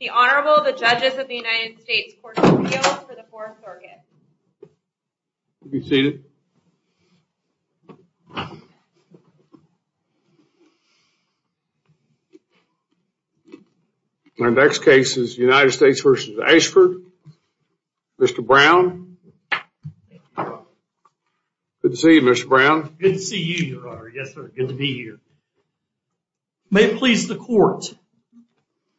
The Honorable, the Judges of the United States Court of Appeals for the 4th Organ. Be seated. Our next case is United States v. Ashford. Mr. Brown. Good to see you, Mr. Brown. Good to see you, Your Honor. Yes, sir. Good to be here. May it please the Court,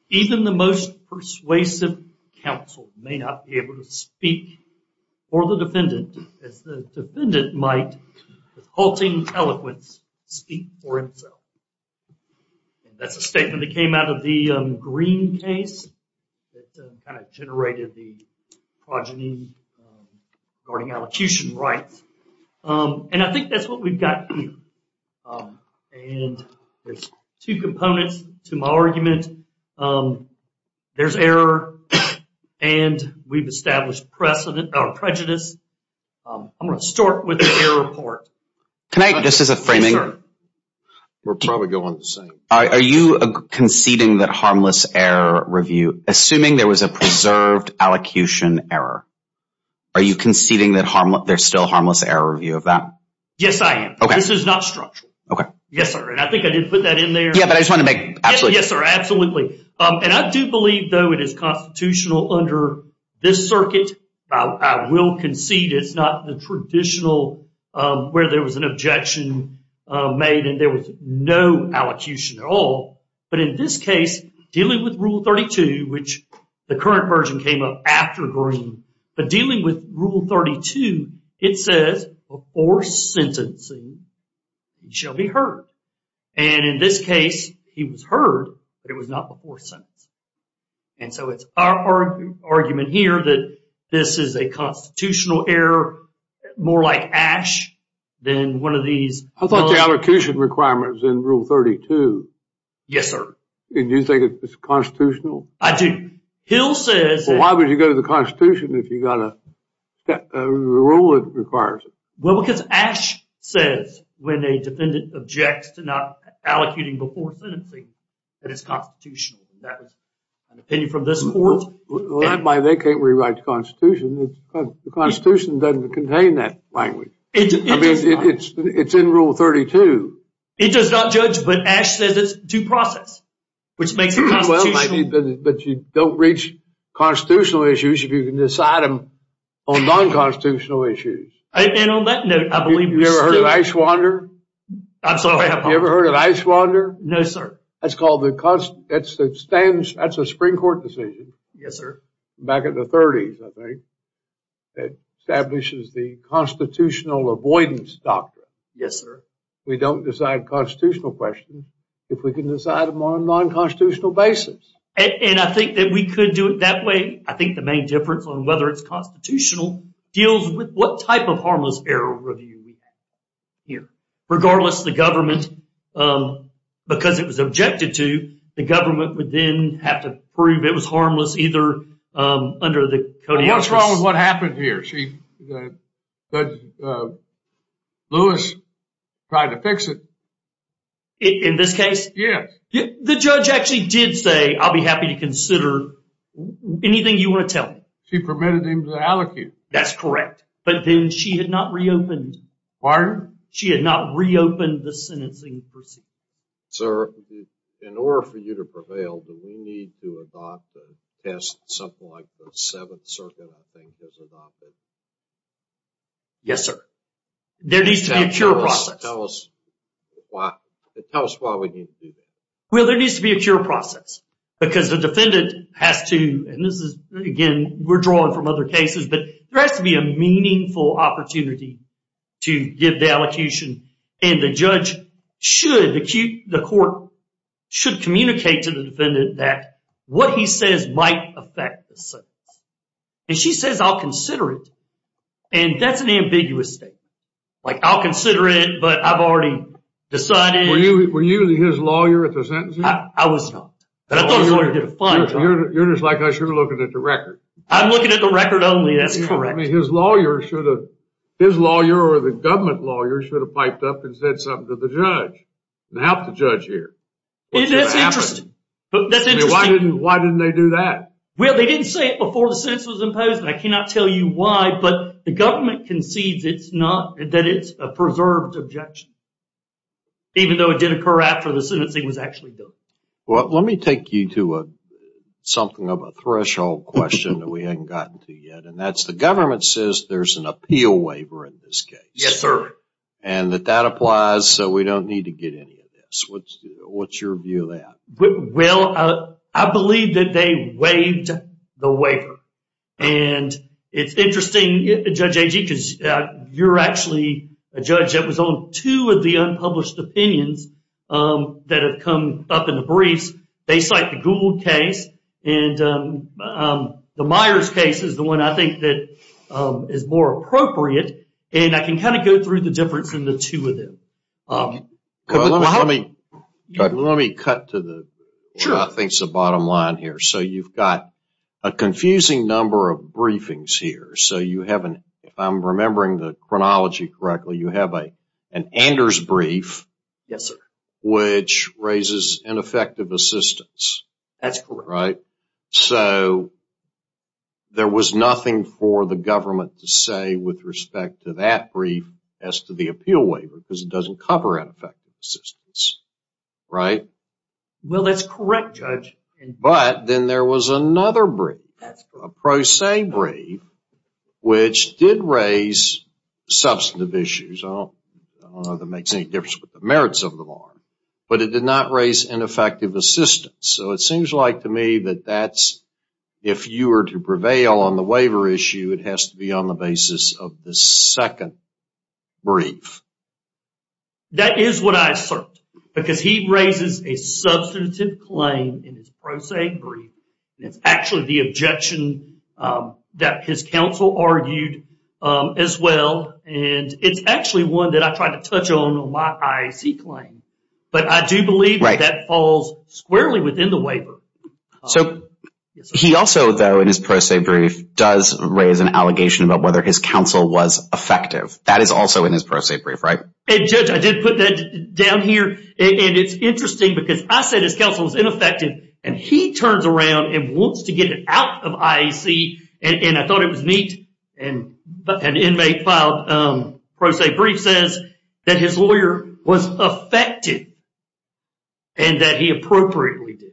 even the most persuasive counsel may not be able to speak for the defendant, as the defendant might, with halting eloquence, speak for himself. That's a statement that came out of the Green case that kind of generated the progeny regarding allocution rights. And I think that's what we've got here. And there's two components to my argument. There's error, and we've established prejudice. I'm going to start with the error part. Can I, just as a framing? Yes, sir. We'll probably go on the same. Are you conceding that harmless error review, assuming there was a preserved allocution error? Are you conceding that there's still harmless error review of that? Yes, I am. Okay. This is not structural. Okay. Yes, sir. And I think I did put that in there. Yeah, but I just want to make absolutely clear. Yes, sir. Absolutely. And I do believe, though, it is constitutional under this circuit. I will concede it's not the traditional where there was an objection made and there was no allocution at all. But in this case, dealing with Rule 32, which the current version came up after Green, but dealing with Rule 32, it says before sentencing, it shall be heard. And in this case, he was heard, but it was not before sentencing. And so it's our argument here that this is a constitutional error, more like ash than one of these. I thought the allocution requirement was in Rule 32. Yes, sir. And you think it's constitutional? I do. Hill says. Why would you go to the Constitution if you got a rule that requires it? Well, because Ash says when a defendant objects to not allocuting before sentencing, that it's constitutional. And that was an opinion from this court. Well, that's why they can't rewrite the Constitution. The Constitution doesn't contain that language. I mean, it's in Rule 32. It does not judge, but Ash says it's due process, which makes it constitutional. But you don't reach constitutional issues if you can decide them on non-constitutional issues. And on that note, I believe. You ever heard of Ice Wanderer? I'm sorry. You ever heard of Ice Wanderer? No, sir. That's a Supreme Court decision. Yes, sir. Back in the 30s, I think, that establishes the constitutional avoidance doctrine. Yes, sir. We don't decide constitutional questions if we can decide them on a non-constitutional basis. And I think that we could do it that way. I think the main difference on whether it's constitutional deals with what type of harmless error review we have here. Regardless, the government, because it was objected to, the government would then have to prove it was harmless either under the code of ethics. What's wrong with what happened here? Lewis tried to fix it. In this case? Yes. The judge actually did say, I'll be happy to consider anything you want to tell me. She permitted him to allocate. That's correct. But then she had not reopened. Pardon? She had not reopened the sentencing procedure. Sir, in order for you to prevail, do we need to adopt the test, something like the Seventh Circuit, I think, has adopted? Yes, sir. There needs to be a cure process. Tell us why we need to do that. Well, there needs to be a cure process. Because the defendant has to, and this is, again, we're drawing from other cases, but there has to be a meaningful opportunity to give the allocation. And the judge should, the court should communicate to the defendant that what he says might affect the sentence. And she says, I'll consider it. And that's an ambiguous statement. Like, I'll consider it, but I've already decided. Were you his lawyer at the sentencing? I was not. But I thought I was going to get a fine. You're just like, I should have looked at the record. I'm looking at the record only. That's correct. I mean, his lawyer should have, his lawyer or the government lawyer should have piped up and said something to the judge and helped the judge hear. That's interesting. Why didn't they do that? Well, they didn't say it before the sentence was imposed, and I cannot tell you why, but the government concedes that it's a preserved objection, even though it did occur after the sentencing was actually done. Well, let me take you to something of a threshold question that we haven't gotten to yet, and that's the government says there's an appeal waiver in this case. Yes, sir. And that that applies, so we don't need to get any of this. What's your view of that? Well, I believe that they waived the waiver. And it's interesting, Judge Agee, because you're actually a judge that was on two of the unpublished opinions that have come up in the briefs. They cite the Gould case, and the Myers case is the one I think that is more appropriate, and I can kind of go through the difference in the two of them. Let me cut to the, I think it's the bottom line here. So you've got a confusing number of briefings here. So you have an, if I'm remembering the chronology correctly, you have an Anders brief. Yes, sir. Which raises ineffective assistance. That's correct. Right? So there was nothing for the government to say with respect to that brief as to the appeal waiver because it doesn't cover ineffective assistance, right? Well, that's correct, Judge. But then there was another brief, a Pro Se brief, which did raise substantive issues. I don't know if that makes any difference with the merits of the law, but it did not raise ineffective assistance. So it seems like to me that that's, if you were to prevail on the waiver issue, it has to be on the basis of the second brief. That is what I assert, because he raises a substantive claim in his Pro Se brief, and it's actually the objection that his counsel argued as well, and it's actually one that I tried to touch on in my IEC claim. But I do believe that that falls squarely within the waiver. So he also, though, in his Pro Se brief, does raise an allegation about whether his counsel was effective. That is also in his Pro Se brief, right? And, Judge, I did put that down here, and it's interesting because I said his counsel was ineffective, and he turns around and wants to get it out of IEC, and I thought it was neat, and an inmate filed Pro Se brief says that his lawyer was effective and that he appropriately did.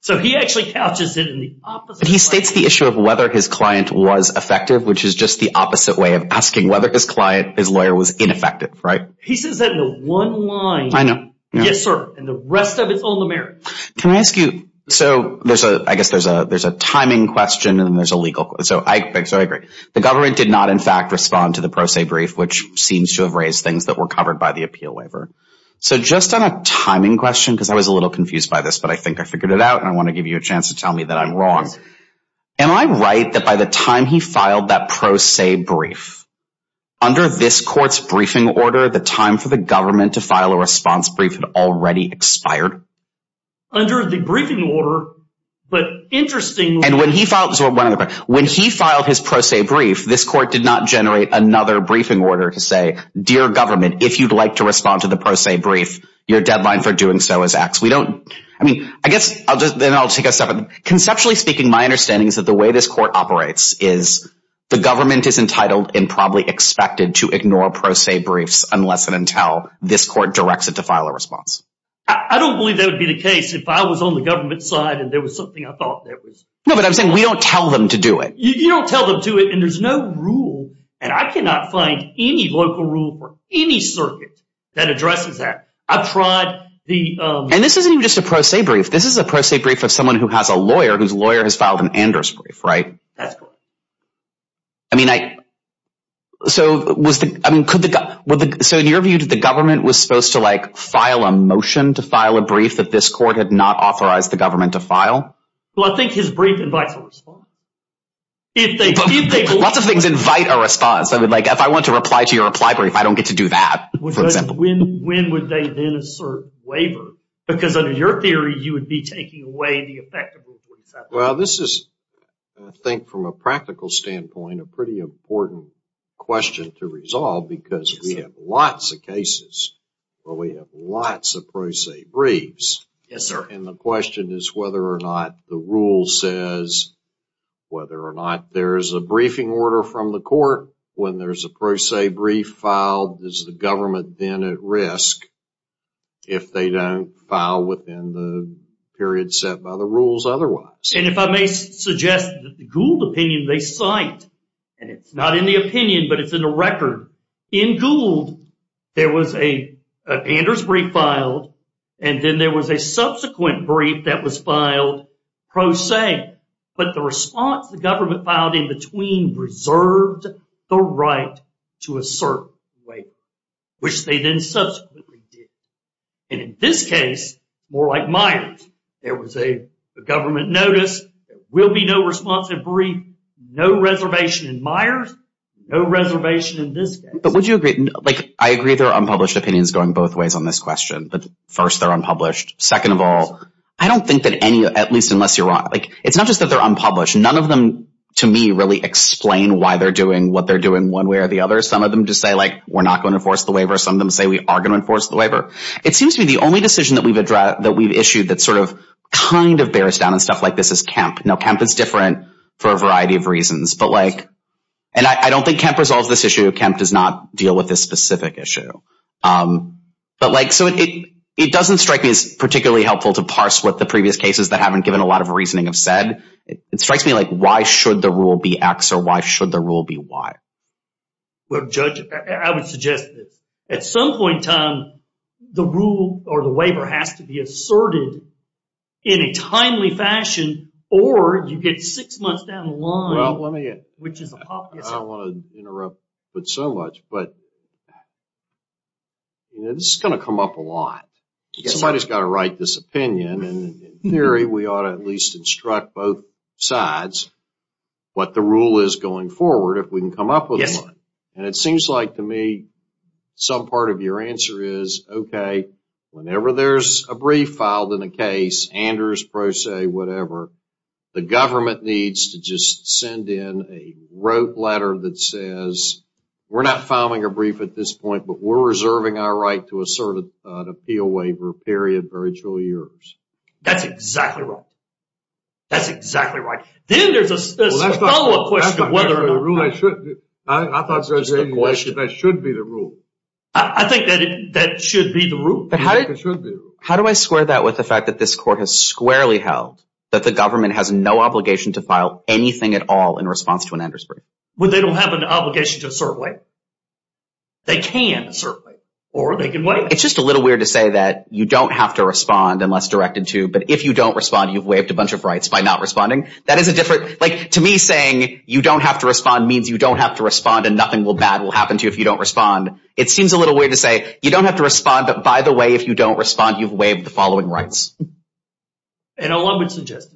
So he actually couches it in the opposite way. But he states the issue of whether his client was effective, which is just the opposite way of asking whether his client, his lawyer, was ineffective, right? He says that in the one line. I know. Yes, sir, and the rest of it's on the merits. Can I ask you, so I guess there's a timing question and then there's a legal question. So I agree. The government did not, in fact, respond to the Pro Se brief, which seems to have raised things that were covered by the appeal waiver. So just on a timing question, because I was a little confused by this, but I think I figured it out and I want to give you a chance to tell me that I'm wrong. Am I right that by the time he filed that Pro Se brief, under this court's briefing order, the time for the government to file a response brief had already expired? Under the briefing order, but interestingly. When he filed his Pro Se brief, this court did not generate another briefing order to say, dear government, if you'd like to respond to the Pro Se brief, your deadline for doing so is X. We don't, I mean, I guess then I'll take a step. Conceptually speaking, my understanding is that the way this court operates is the government is entitled and probably expected to ignore Pro Se briefs unless and until this court directs it to file a response. I don't believe that would be the case if I was on the government side and there was something I thought that was. No, but I'm saying we don't tell them to do it. You don't tell them to do it and there's no rule, and I cannot find any local rule for any circuit that addresses that. I've tried the. And this isn't even just a Pro Se brief. This is a Pro Se brief of someone who has a lawyer whose lawyer has filed an Anders brief, right? That's correct. I mean, so in your view, did the government was supposed to like file a motion to file a brief that this court had not authorized the government to file? Well, I think his brief invites a response. Lots of things invite a response. I mean, like if I want to reply to your reply brief, I don't get to do that, for example. When would they then assert waiver? Because under your theory, you would be taking away the effect of what he said. Well, this is, I think, from a practical standpoint, a pretty important question to resolve because we have lots of cases where we have lots of Pro Se briefs. Yes, sir. And the question is whether or not the rule says whether or not there is a briefing order from the court. When there's a Pro Se brief filed, is the government then at risk if they don't file within the period set by the rules otherwise? And if I may suggest that the Gould opinion they cite, and it's not in the opinion but it's in the record, in Gould there was an Anders brief filed and then there was a subsequent brief that was filed Pro Se. But the response the government filed in between reserved the right to assert waiver, which they then subsequently did. And in this case, more like Myers, there was a government notice, there will be no responsive brief, no reservation in Myers, no reservation in this case. But would you agree, like I agree there are unpublished opinions going both ways on this question, but first they're unpublished. Second of all, I don't think that any, at least unless you're wrong, like it's not just that they're unpublished. None of them to me really explain why they're doing what they're doing one way or the other. Some of them just say like we're not going to enforce the waiver. Some of them say we are going to enforce the waiver. It seems to be the only decision that we've issued that sort of kind of bears down and stuff like this is Kemp. Now Kemp is different for a variety of reasons. But like, and I don't think Kemp resolves this issue. Kemp does not deal with this specific issue. But like so it doesn't strike me as particularly helpful to parse what the previous cases that haven't given a lot of reasoning have said. It strikes me like why should the rule be X or why should the rule be Y? Well Judge, I would suggest that at some point in time, the rule or the waiver has to be asserted in a timely fashion or you get six months down the line. Well let me, I don't want to interrupt so much, but this is going to come up a lot. Somebody's got to write this opinion and in theory we ought to at least instruct both sides what the rule is going forward if we can come up with one. Yes. And it seems like to me some part of your answer is okay, whenever there's a brief filed in a case, Anders, Proce, whatever, the government needs to just send in a rote letter that says we're not filing a brief at this point but we're reserving our right to assert an appeal waiver, period, virtual years. That's exactly right. That's exactly right. Then there's a follow up question of whether or not. I thought you were saying that should be the rule. I think that should be the rule. How do I square that with the fact that this court has squarely held that the government has no obligation to file anything at all in response to an Anders brief? Well they don't have an obligation to assert a waiver. They can assert a waiver or they can waive it. It's just a little weird to say that you don't have to respond unless directed to but if you don't respond, you've waived a bunch of rights by not responding. That is a different, like to me saying you don't have to respond means you don't have to respond and nothing bad will happen to you if you don't respond. It seems a little weird to say you don't have to respond but by the way, if you don't respond, you've waived the following rights. And a lot of it is just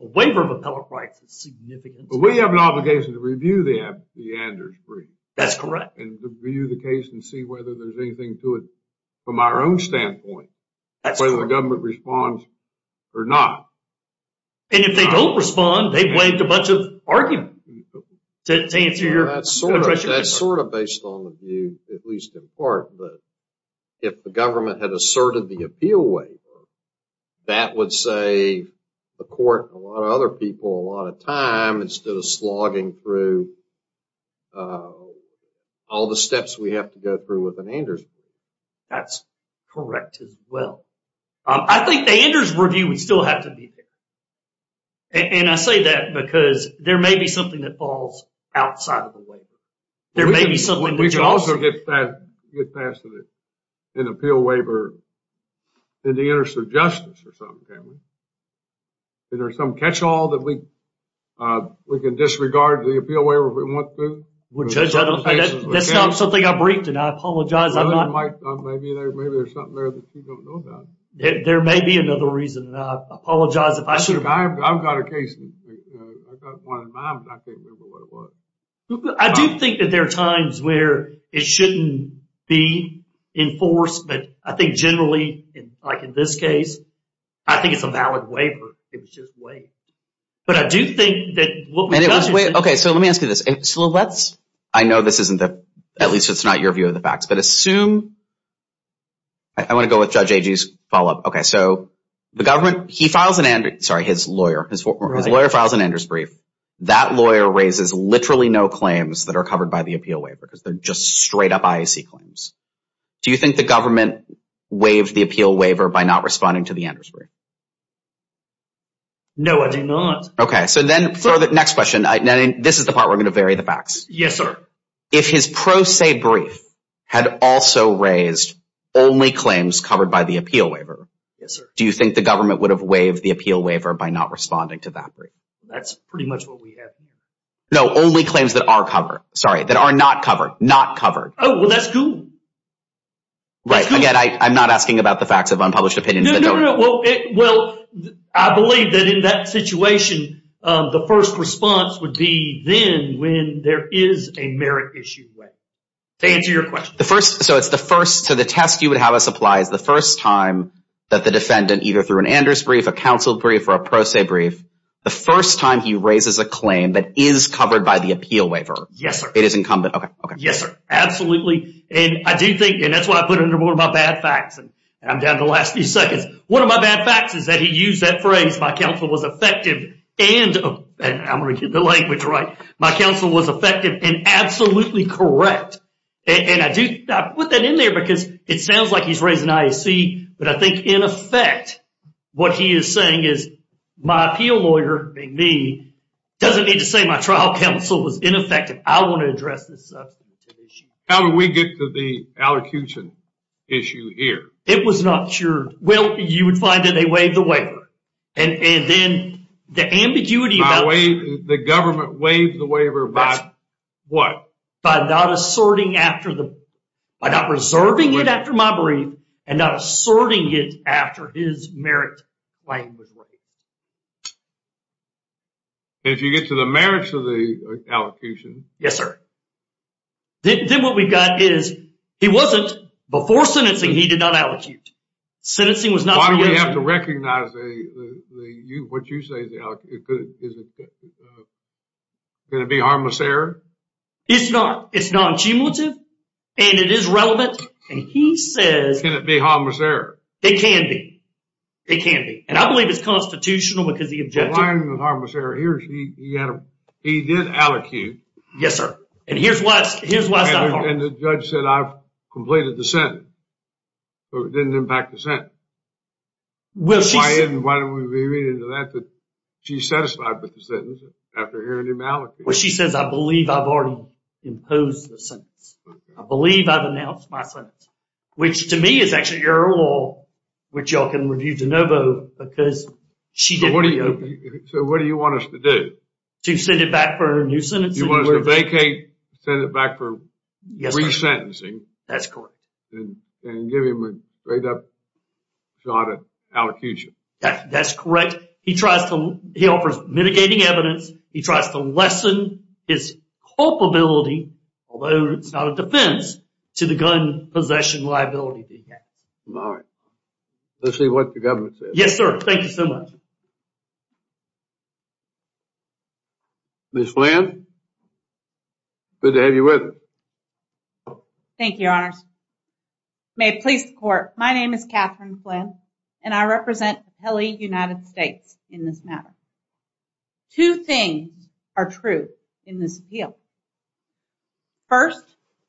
a waiver of appellate rights is significant. But we have an obligation to review the Anders brief. That's correct. And review the case and see whether there's anything to it. Whether the government responds or not. And if they don't respond, they've waived a bunch of arguments to answer your question. That's sort of based on the view, at least in part, but if the government had asserted the appeal waiver, that would save the court and a lot of other people a lot of time instead of slogging through all the steps we have to go through with an Anders brief. That's correct as well. I think the Anders review would still have to be there. And I say that because there may be something that falls outside of the waiver. There may be something that you also get past in the appeal waiver in the interest of justice or something, can't we? Is there some catch-all that we can disregard the appeal waiver if we want to? That's not something I briefed, and I apologize. Maybe there's something there that you don't know about. There may be another reason, and I apologize if I should. I've got a case. I've got one in mind, but I can't remember what it was. I do think that there are times where it shouldn't be enforced, but I think generally, like in this case, I think it's a valid waiver. It was just waived. But I do think that what we've done is— Okay, so let me ask you this. I know this isn't the—at least it's not your view of the facts, but assume— I want to go with Judge Agee's follow-up. Okay, so the government, he files an—sorry, his lawyer. His lawyer files an Anders brief. That lawyer raises literally no claims that are covered by the appeal waiver because they're just straight-up IAC claims. Do you think the government waived the appeal waiver by not responding to the Anders brief? No, I do not. Okay, so then for the next question, this is the part where we're going to vary the facts. Yes, sir. If his pro se brief had also raised only claims covered by the appeal waiver, do you think the government would have waived the appeal waiver by not responding to that brief? That's pretty much what we have here. No, only claims that are covered. Sorry, that are not covered. Not covered. Oh, well, that's Google. Right. Again, I'm not asking about the facts of unpublished opinions. No, no, no. Well, I believe that in that situation, the first response would be then when there is a merit issue waived. To answer your question. So it's the first—so the test you would have us apply is the first time that the defendant, either through an Anders brief, a counsel brief, or a pro se brief, the first time he raises a claim that is covered by the appeal waiver. Yes, sir. It is incumbent. Yes, sir. Absolutely. And I do think—and that's why I put it under one of my bad facts. And I'm down to the last few seconds. One of my bad facts is that he used that phrase, my counsel was effective and— I'm going to get the language right. My counsel was effective and absolutely correct. And I do—I put that in there because it sounds like he's raising IAC, but I think in effect what he is saying is my appeal lawyer, me, doesn't need to say my trial counsel was ineffective. I want to address this substantive issue. How did we get to the allocution issue here? It was not sure. Well, you would find that they waived the waiver. And then the ambiguity about— The government waived the waiver by what? By not asserting after the—by not reserving it after my brief and not asserting it after his merit claim was waived. If you get to the merits of the allocution— Yes, sir. Then what we've got is he wasn't—before sentencing he did not allocute. Sentencing was not— Why do we have to recognize the—what you say the alloc— Is it going to be harmless error? It's not. It's non-cumulative and it is relevant. And he says— Can it be harmless error? It can be. It can be. And I believe it's constitutional because the objective— The line with harmless error here is he did allocute. Yes, sir. And here's why it's not harmful. And the judge said I've completed the sentence. But it didn't impact the sentence. Well, she said— Why didn't we read into that that she's satisfied with the sentence after hearing him allocate? Well, she says I believe I've already imposed the sentence. I believe I've announced my sentence, which to me is actually error law, which y'all can review de novo because she didn't— So what do you want us to do? To send it back for a new sentence? You want us to vacate, send it back for resentencing. That's correct. And give him a straight-up shot at allocution. That's correct. He tries to—he offers mitigating evidence. He tries to lessen his culpability, although it's not a defense, to the gun possession liability that he has. All right. Let's see what the government says. Yes, sir. Thank you so much. Ms. Flynn, good to have you with us. Thank you, Your Honors. May it please the Court, my name is Katherine Flynn, and I represent Appellee United States in this matter. Two things are true in this appeal. First,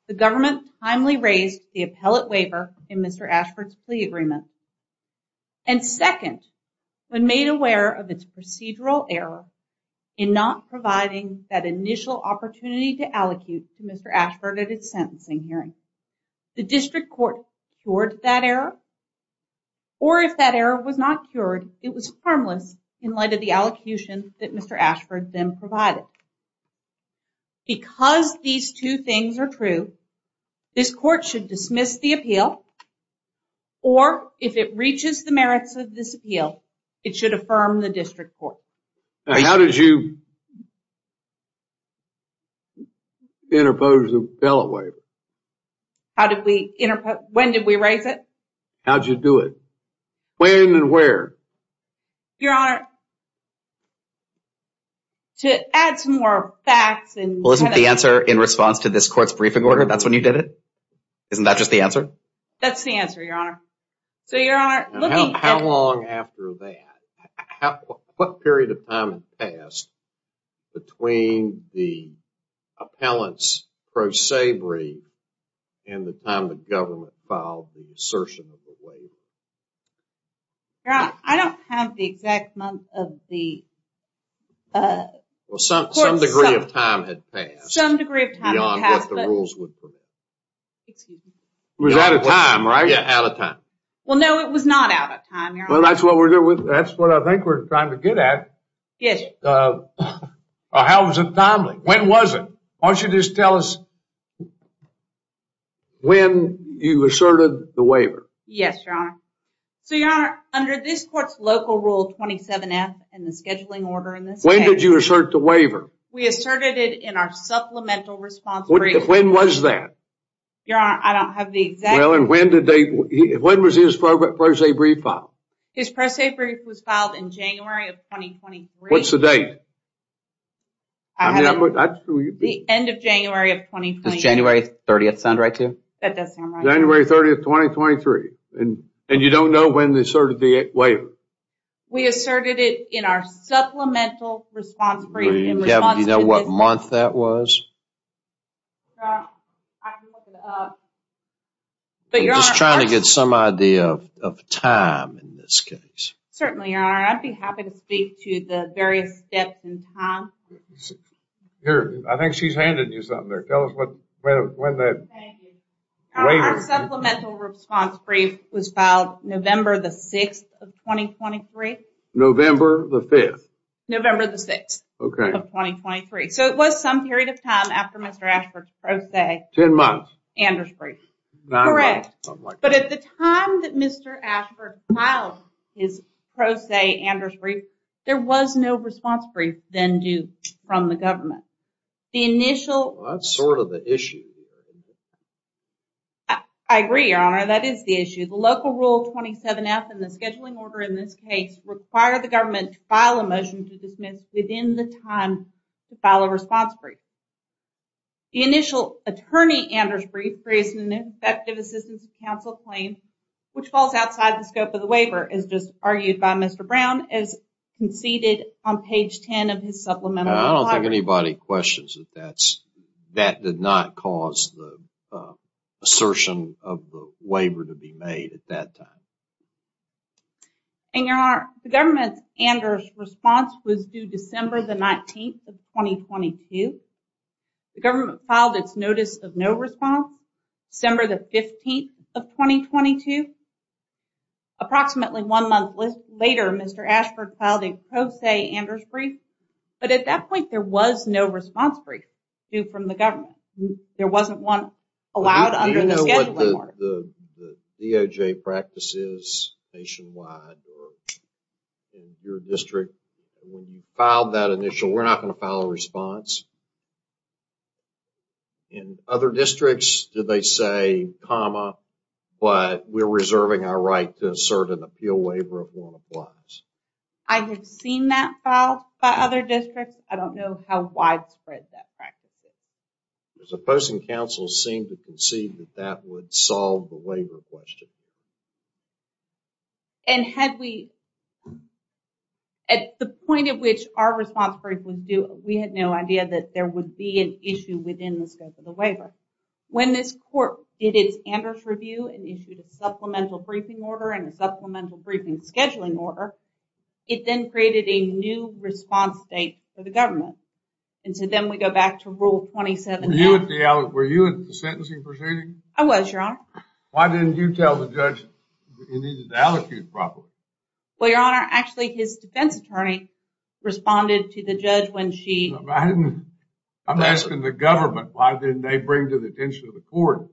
the government timely raised the appellate waiver in Mr. Ashford's plea agreement. And second, when made aware of its procedural error in not providing that initial opportunity to allocute to Mr. Ashford at his sentencing hearing, the district court cured that error, or if that error was not cured, it was harmless in light of the allocution that Mr. Ashford then provided. Because these two things are true, this court should dismiss the appeal or if it reaches the merits of this appeal, it should affirm the district court. How did you interpose the appellate waiver? How did we interpose? When did we raise it? How did you do it? When and where? Your Honor, to add some more facts... Well, isn't the answer in response to this court's briefing order, that's when you did it? Isn't that just the answer? That's the answer, Your Honor. So, Your Honor... How long after that? What period of time had passed between the appellant's pro sabre and the time the government filed the assertion of the waiver? Your Honor, I don't have the exact month of the... Well, some degree of time had passed... It was out of time, right? Yeah, out of time. Well, no, it was not out of time, Your Honor. Well, that's what I think we're trying to get at. Yes, Your Honor. How was it timely? When was it? Why don't you just tell us when you asserted the waiver? Yes, Your Honor. So, Your Honor, under this court's local rule 27F and the scheduling order in this case... When did you assert the waiver? We asserted it in our supplemental response brief. When was that? Your Honor, I don't have the exact... Well, and when did they... When was his pro sabre filed? His pro sabre was filed in January of 2023. What's the date? I haven't... The end of January of 2023. Does January 30th sound right to you? That does sound right to me. January 30th, 2023. And you don't know when they asserted the waiver? We asserted it in our supplemental response brief in response to the... Do you know what month that was? I can look it up. I'm just trying to get some idea of time in this case. Certainly, Your Honor. I'd be happy to speak to the various steps in time. I think she's handed you something there. Tell us when that waiver... Our supplemental response brief was filed November the 6th of 2023. November the 5th? November the 6th of 2023. So, it was some period of time after Mr. Ashford's pro se... Ten months. Anders brief. Nine months. Correct. But at the time that Mr. Ashford filed his pro se Anders brief, there was no response brief then due from the government. The initial... That's sort of the issue. I agree, Your Honor. That is the issue. The local rule 27F and the scheduling order in this case require the government to file a motion to dismiss within the time to file a response brief. The initial attorney Anders brief creates an ineffective assistance to counsel claim which falls outside the scope of the waiver as just argued by Mr. Brown as conceded on page 10 of his supplemental... I don't think anybody questions that that's... That did not cause the assertion of the waiver to be made at that time. And Your Honor, the government's Anders response was due December the 19th of 2022. The government filed its notice of no response December the 15th of 2022. Approximately one month later, Mr. Ashford filed a pro se Anders brief, but at that point there was no response brief due from the government. There wasn't one allowed under the scheduling order. The DOJ practices nationwide or in your district, when you filed that initial, we're not going to file a response. In other districts, do they say comma, but we're reserving our right to assert an appeal waiver if one applies? I have seen that filed by other districts. I don't know how widespread that practice is. The opposing counsel seemed to concede that that would solve the waiver question. And had we... At the point at which our response brief was due, we had no idea that there would be an issue within the scope of the waiver. When this court did its Anders review and issued a supplemental briefing order and a supplemental briefing scheduling order, it then created a new response date for the government. And so then we go back to rule 27. Were you at the sentencing proceeding? I was, Your Honor. Why didn't you tell the judge you needed to allocute properly? Well, Your Honor, actually his defense attorney responded to the judge when she... I'm asking the government, why didn't they bring to the attention of the court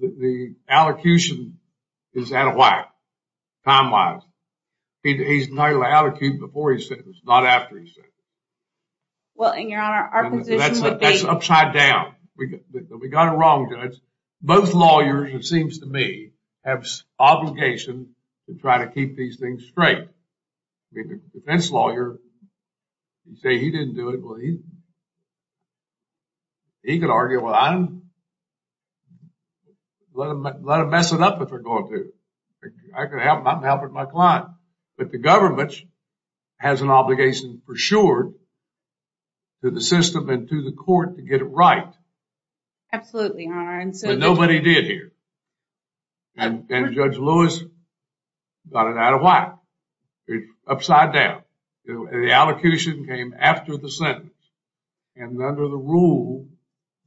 that the allocution is out of whack time-wise. He's entitled to allocute before he's sentenced, not after he's sentenced. Well, and Your Honor, our position would be... That's upside down. We got it wrong, Judge. Both lawyers, it seems to me, have obligations to try to keep these things straight. The defense lawyer can say he didn't do it, but he could argue, well, I don't... Let them mess it up if they're going to. I'm helping my client. But the government has an obligation, for sure, to the system and to the court to get it right. Absolutely, Your Honor. But nobody did here. And Judge Lewis got it out of whack. It's upside down. The allocution came after the sentence. And under the rule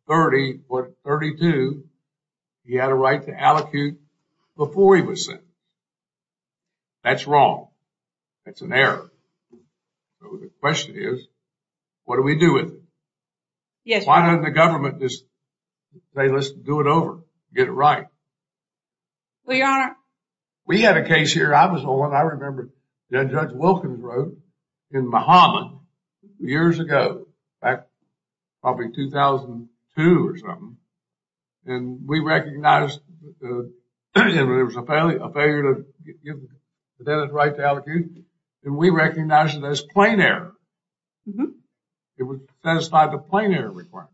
30.32, he had a right to allocate before he was sentenced. That's wrong. That's an error. So the question is, what do we do with it? Why doesn't the government just say, let's do it over, get it right? Well, Your Honor... We had a case here. I was on one. I remember Judge Wilkins wrote in Mahama years ago, back probably 2002 or something. And we recognized that it was a failure to give the defendant the right to allocate. And we recognized it as plain error. It would satisfy the plain error requirement.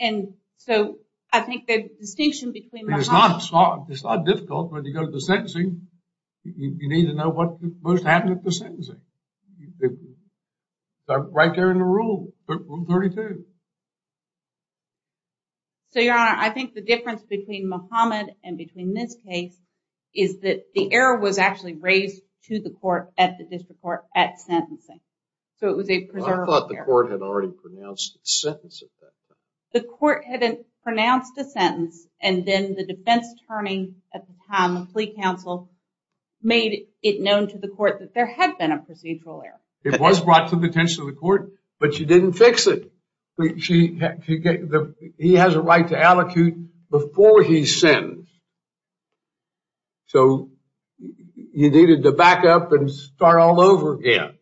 And so I think the distinction between Mahama... It's not difficult. When you go to the sentencing, you need to know what most happened at the sentencing. That's right there in the rule. Rule 32. So, Your Honor, I think the difference between Mahama and between this case is that the error was actually raised to the court at the district court at sentencing. So it was a preserved error. I thought the court had already pronounced a sentence at that time. The court had pronounced a sentence, and then the defense attorney at the time, the plea counsel, made it known to the court that there had been a procedural error. It was brought to the attention of the court, but she didn't fix it. He has a right to allocate before he sins. So you needed to back up and start all over again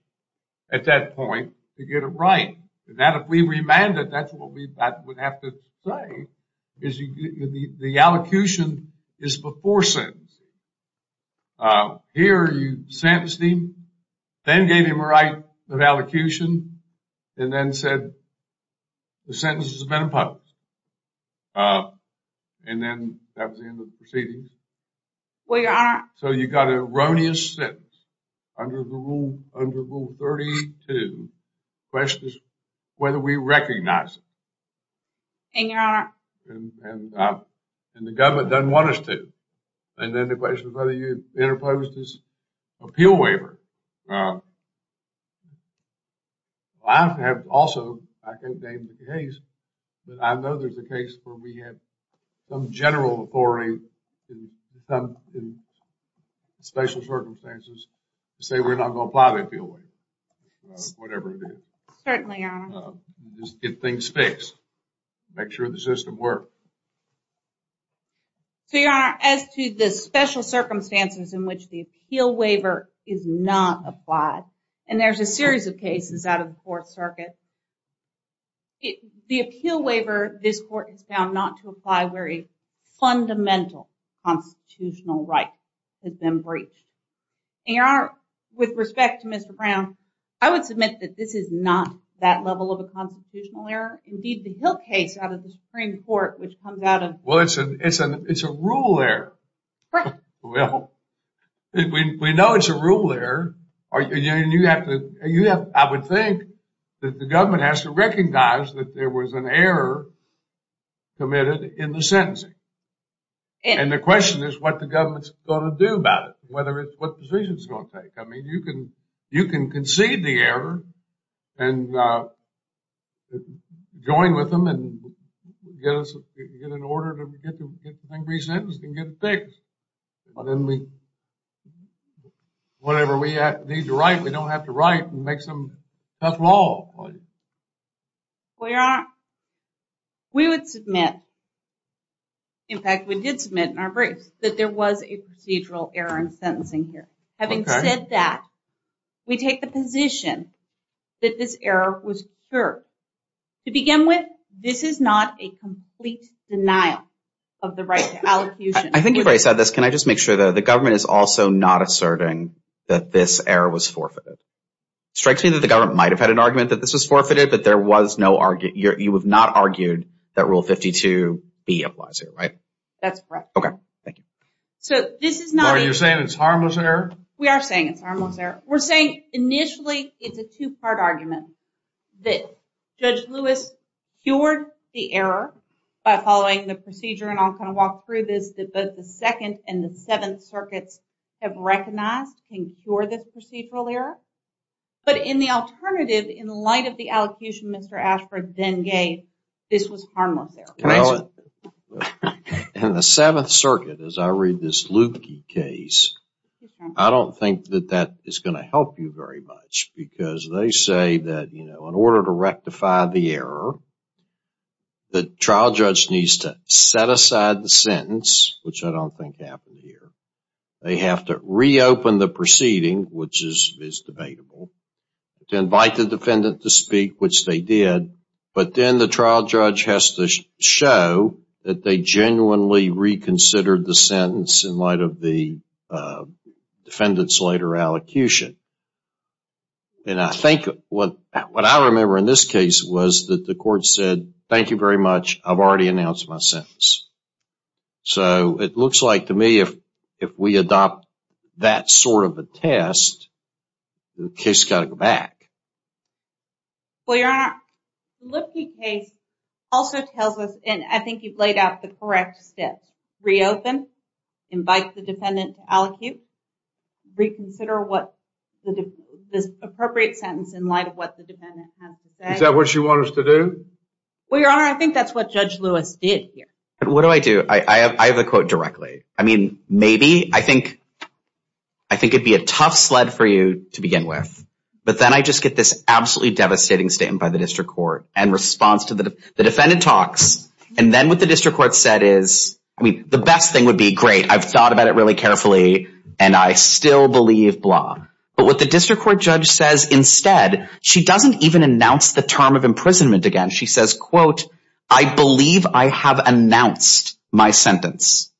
at that point to get it right. And that if we remanded, that's what we would have to say, is the allocution is before sins. Here you sentenced him, then gave him a right of allocution, and then said the sentence has been imposed. And then that was the end of the proceedings. Well, Your Honor. So you got an erroneous sentence under Rule 32. The question is whether we recognize it. And, Your Honor. And the government doesn't want us to. And then the question is whether you interposed his appeal waiver. I have also, I can't name the case, but I know there's a case where we have some general authority in some special circumstances to say we're not going to apply the appeal waiver. Whatever it is. Certainly, Your Honor. Just get things fixed. Make sure the system works. So, Your Honor, as to the special circumstances in which the appeal waiver is not applied, and there's a series of cases out of the Fourth Circuit, the appeal waiver, this court has found not to apply where a fundamental constitutional right has been breached. And, Your Honor, with respect to Mr. Brown, I would submit that this is not that level of a constitutional error. Indeed, the Hill case out of the Supreme Court, which comes out of... Well, it's a rule error. Right. Well, we know it's a rule error. And you have to... I would think that the government has to recognize that there was an error committed in the sentencing. And the question is what the government's going to do about it. I mean, you can concede the error and join with them and get an order to get the thing resentenced and get it fixed. But then we... Whatever we need to write, we don't have to write and make some tough law. Well, Your Honor, we would submit... In fact, we did submit in our briefs that there was a procedural error in sentencing here. Having said that, we take the position that this error was cured. To begin with, this is not a complete denial of the right to allocution. I think you've already said this. Can I just make sure that the government is also not asserting that this error was forfeited? It strikes me that the government might have had an argument that this was forfeited, but there was no... You have not argued that Rule 52B applies here, right? That's correct. Okay, thank you. So this is not... Are you saying it's harmless error? We are saying it's harmless error. We're saying, initially, it's a two-part argument that Judge Lewis cured the error by following the procedure, and I'll kind of walk through this, that both the Second and the Seventh Circuits have recognized and cured this procedural error. But in the alternative, in light of the allocution Mr. Ashford then gave, this was harmless error. In the Seventh Circuit, as I read this Lukey case, I don't think that that is going to help you very much because they say that in order to rectify the error, the trial judge needs to set aside the sentence, which I don't think happened here. They have to reopen the proceeding, which is debatable, to invite the defendant to speak, which they did, but then the trial judge has to show that they genuinely reconsidered the sentence in light of the defendant's later allocution. And I think what I remember in this case was that the court said, thank you very much, I've already announced my sentence. So it looks like, to me, if we adopt that sort of a test, the case has got to go back. Well, Your Honor, Lukey case also tells us, and I think you've laid out the correct steps, reopen, invite the defendant to allocute, reconsider this appropriate sentence in light of what the defendant has to say. Is that what you want us to do? Well, Your Honor, I think that's what Judge Lewis did here. What do I do? I have a quote directly. I mean, maybe, I think it'd be a tough sled for you to begin with, but then I just get this absolutely devastating statement by the district court in response to the defendant talks, and then what the district court said is, I mean, the best thing would be, great, I've thought about it really carefully, and I still believe blah. But what the district court judge says instead, she doesn't even announce the term of imprisonment again. She says, quote, I believe I have announced my sentence.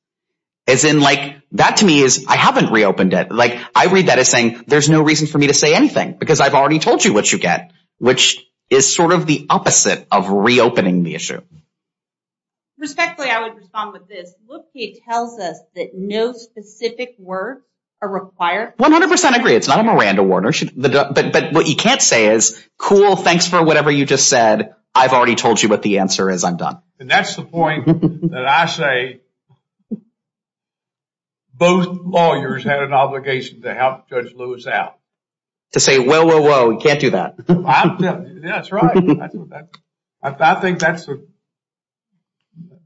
As in, like, that to me is, I haven't reopened it. Like, I read that as saying, there's no reason for me to say anything because I've already told you what you get, which is sort of the opposite of reopening the issue. Respectfully, I would respond with this. Look, he tells us that no specific word are required. 100% agree. It's not a Miranda warner. But what you can't say is, cool, thanks for whatever you just said. I've already told you what the answer is. I'm done. And that's the point that I say both lawyers had an obligation to help Judge Lewis out. To say, whoa, whoa, whoa, you can't do that. Yeah, that's right. I think that's,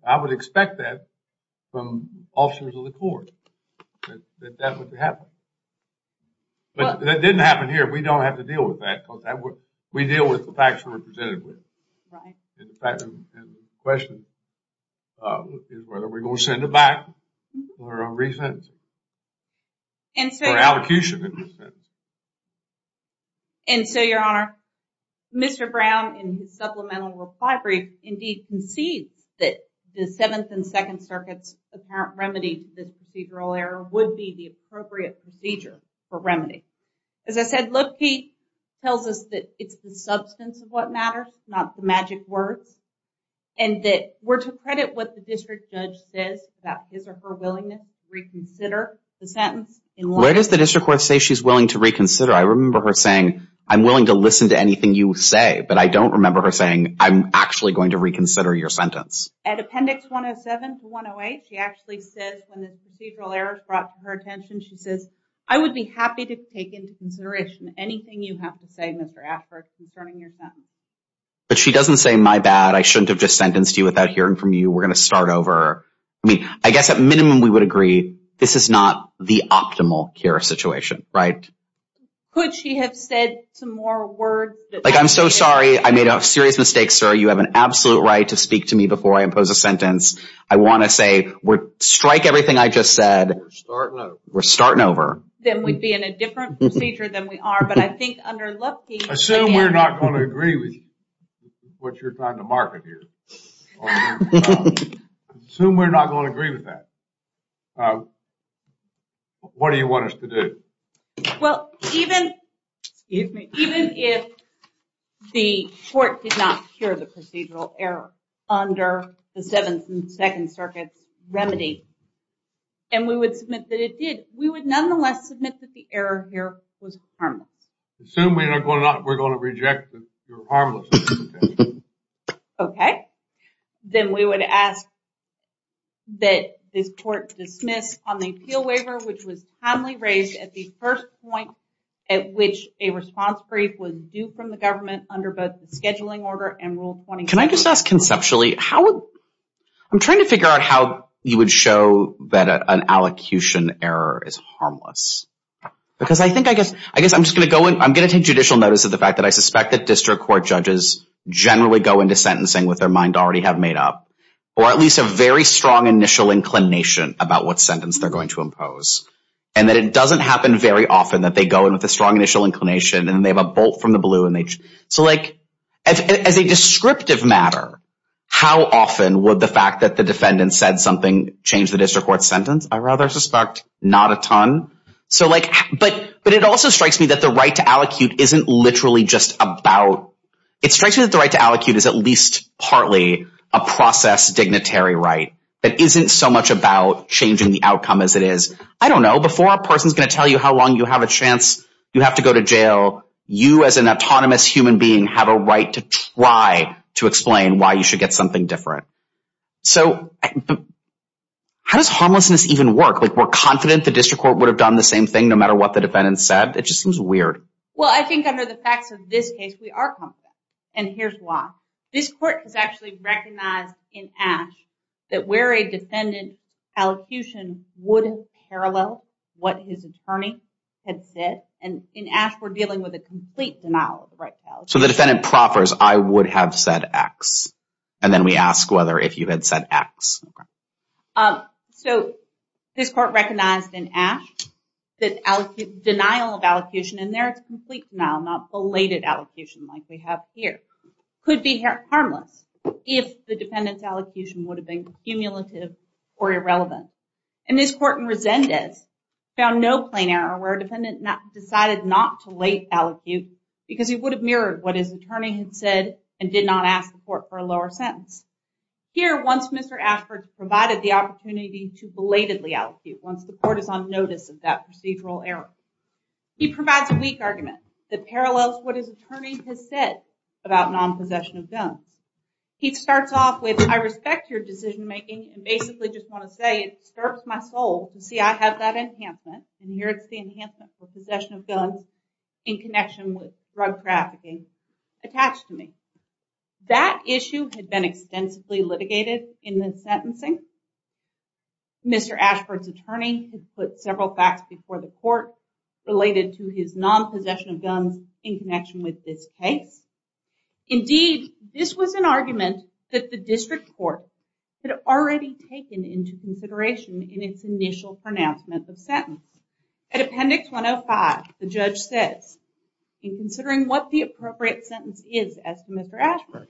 I would expect that from officers of the court. That that would happen. But that didn't happen here. We don't have to deal with that. We deal with the facts we're presented with. And the question is whether we're going to send it back or re-sentence it. Or allocution it. And so, Your Honor, Mr. Brown in his supplemental reply brief indeed concedes that the Seventh and Second Circuits apparent remedy to this procedural error would be the appropriate procedure for remedy. As I said, look, he tells us that it's the substance of what matters, not the magic words. And that we're to credit what the district judge says about his or her willingness to reconsider the sentence. Where does the district court say she's willing to reconsider? I remember her saying, I'm willing to listen to anything you say. But I don't remember her saying, I'm actually going to reconsider your sentence. At Appendix 107 to 108, she actually says when this procedural error is brought to her attention, she says, I would be happy to take into consideration anything you have to say, Mr. Ashford, concerning your sentence. But she doesn't say, my bad. I shouldn't have just sentenced you without hearing from you. We're going to start over. I mean, I guess at minimum we would agree this is not the optimal care situation, right? Could she have said some more words? Like, I'm so sorry. I made a serious mistake, sir. You have an absolute right to speak to me before I impose a sentence. I want to say, strike everything I just said. We're starting over. We're starting over. Then we'd be in a different procedure than we are. But I think under Lupke... Assume we're not going to agree with what you're trying to market here. Assume we're not going to agree with that. What do you want us to do? Well, even if the court did not hear the procedural error under the Seventh and Second Circuits remedy, and we would submit that it did, we would nonetheless submit that the error here was harmless. Assume we're going to reject your harmless interpretation. Okay. Then we would ask that this court dismiss on the appeal waiver, which was timely raised at the first point at which a response brief was due from the government under both the scheduling order and Rule 26. Can I just ask conceptually, I'm trying to figure out how you would show that an allocution error is harmless. Because I think, I guess I'm just going to go in, I'm going to take judicial notice of the fact that I suspect that district court judges generally go into sentencing with their mind already have made up, or at least a very strong initial inclination about what sentence they're going to impose, and that it doesn't happen very often that they go in with a strong initial inclination and they have a bolt from the blue. As a descriptive matter, how often would the fact that the defendant said something change the district court sentence? I rather suspect not a ton. But it also strikes me that the right to allocute isn't literally just about, it strikes me that the right to allocute is at least partly a process dignitary right that isn't so much about changing the outcome as it is, I don't know, before a person's going to tell you how long you have a chance you have to go to jail, you as an autonomous human being have a right to try to explain why you should get something different. So, how does harmlessness even work? We're confident the district court would have done the same thing no matter what the defendant said? It just seems weird. Well, I think under the facts of this case, we are confident, and here's why. This court has actually recognized in Ashe that where a defendant's allocution wouldn't parallel what his attorney had said, and in Ashe, we're dealing with a complete denial of the right to allocute. So, the defendant proffers, I would have said X, and then we ask whether if you had said X. So, this court recognized in Ashe that denial of allocution, and there it's complete denial, not belated allocution like we have here, could be harmless if the defendant's allocution would have been cumulative or irrelevant. And this court in Resendez found no plain error where a defendant decided not to late allocute because he would have mirrored what his attorney had said and did not ask the court for a lower sentence. Here, once Mr. Ashford provided the opportunity to belatedly allocute once the court is on notice of that procedural error. He provides a weak argument that parallels what his attorney has said about non-possession of guns. He starts off with, I respect your decision making and basically just want to say it disturbs my soul to see I have that enhancement, and here it's the enhancement for possession of guns in connection with drug trafficking attached to me. That issue had been extensively litigated in the sentencing. Mr. Ashford's attorney had put several facts before the court related to his non-possession of guns in connection with this case. Indeed, this was an argument that the district court had already taken into consideration in its initial pronouncement of sentence. At appendix 105, the judge says, in considering what the appropriate sentence is as to Mr. Ashford,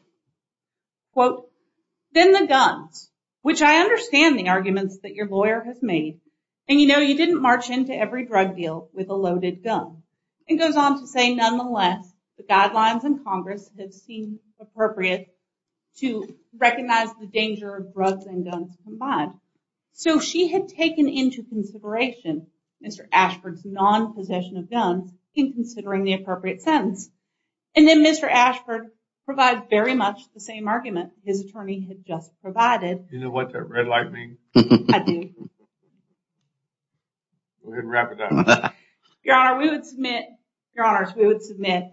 quote, then the guns, which I understand the arguments that your lawyer has made, and you know you didn't march into every drug deal with a loaded gun. It goes on to say, nonetheless, the guidelines in Congress have seemed appropriate to recognize the danger of drugs and guns combined. So she had taken into consideration Mr. Ashford's non-possession of guns in considering the appropriate sentence. And then Mr. Ashford provides very much the same argument his attorney had just provided. You know what that red light means? I do. Go ahead and wrap it up. Your Honor, we would submit, Your Honors, we would submit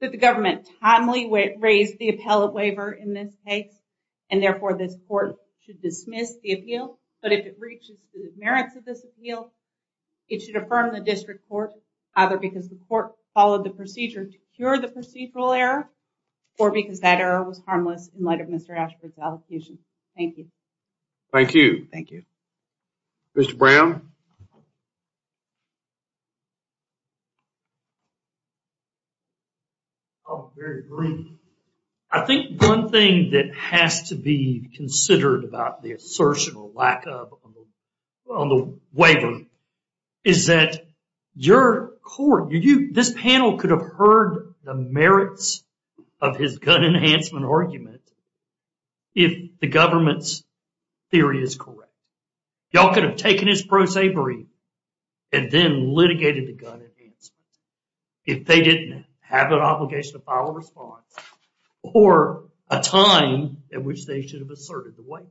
that the government timely raised the appellate waiver in this case and therefore this court should dismiss the appeal. But if it reaches the merits of this appeal, it should affirm the district court either because the court followed the procedure to cure the procedural error or because that error was harmless in light of Mr. Ashford's allocation. Thank you. Thank you. Thank you. Mr. Brown? I'll be very brief. I think one thing that has to be considered about the assertion or lack of on the waiver is that your court, this panel could have heard the merits of his gun enhancement argument if the government's theory is correct. Y'all could have taken his pro sabre and then litigated the gun enhancement if they didn't have an obligation to file a response or a time at which they should have asserted the waiver.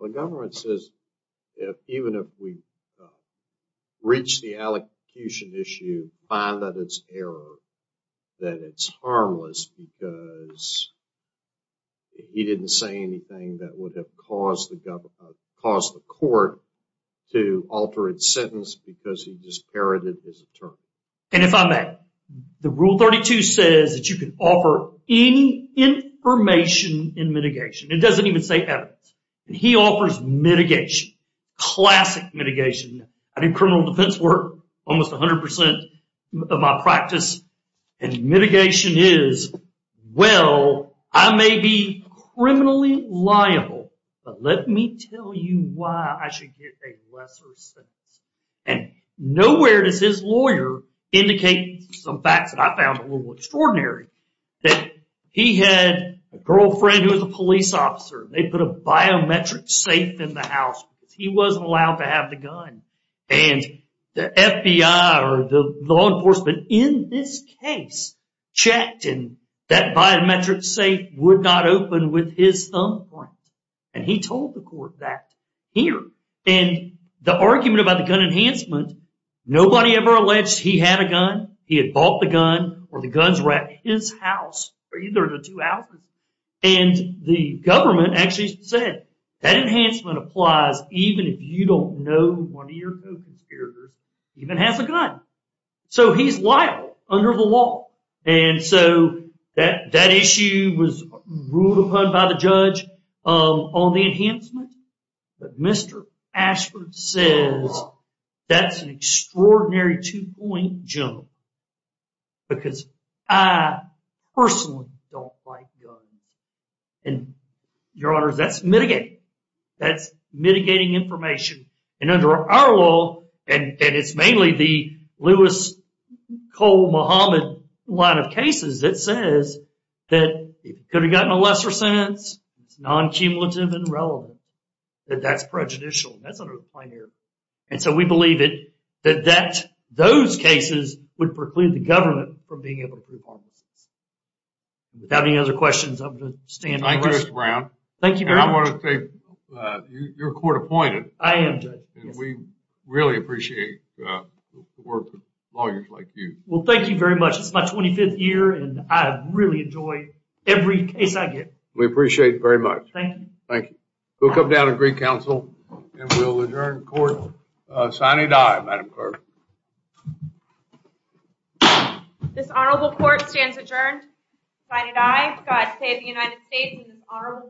The government says even if we reach the allocution issue and find that it's error, that it's harmless because he didn't say anything that would have caused the court to alter its sentence because he just parroted his term. And if I may, the Rule 32 says that you can offer any information in mitigation. It doesn't even say evidence. He offers mitigation, classic mitigation. I do criminal defense work almost 100% of my practice, and mitigation is, well, I may be criminally liable, but let me tell you why I should get a lesser sentence. And nowhere does his lawyer indicate some facts that I found a little extraordinary that he had a girlfriend who was a police officer. They put a biometric safe in the house because he wasn't allowed to have the gun. And the FBI or the law enforcement in this case checked and that biometric safe would not open with his thumbprint. And he told the court that here. And the argument about the gun enhancement, nobody ever alleged he had a gun, he had bought the gun, or the guns were at his house or either of the two houses. And the government actually said that enhancement applies even if you don't know one of your co-conspirators even has a gun. So he's liable under the law. And so that issue was ruled upon by the judge on the enhancement. But Mr. Ashford says that's an extraordinary two-point jump because I personally don't like guns. And, Your Honors, that's mitigating. That's mitigating information. And under our law, and it's mainly the Lewis-Cole-Muhammad line of cases, it says that it could have gotten a lesser sentence, it's non-cumulative and relevant, that that's prejudicial, that's under the plenary. And so we believe that those cases would preclude the government from being able to prove homelessness. Without any other questions, I'm going to stand. Thank you, Mr. Brown. Thank you very much. And I want to say you're court-appointed. I am, Judge. And we really appreciate the work of lawyers like you. Well, thank you very much. It's my 25th year, and I really enjoy every case I get. We appreciate it very much. Thank you. Thank you. We'll come down and greet counsel, and we'll adjourn court. Signing die, Madam Clerk. This honorable court stands adjourned. Signing die. God save the United States and this honorable court.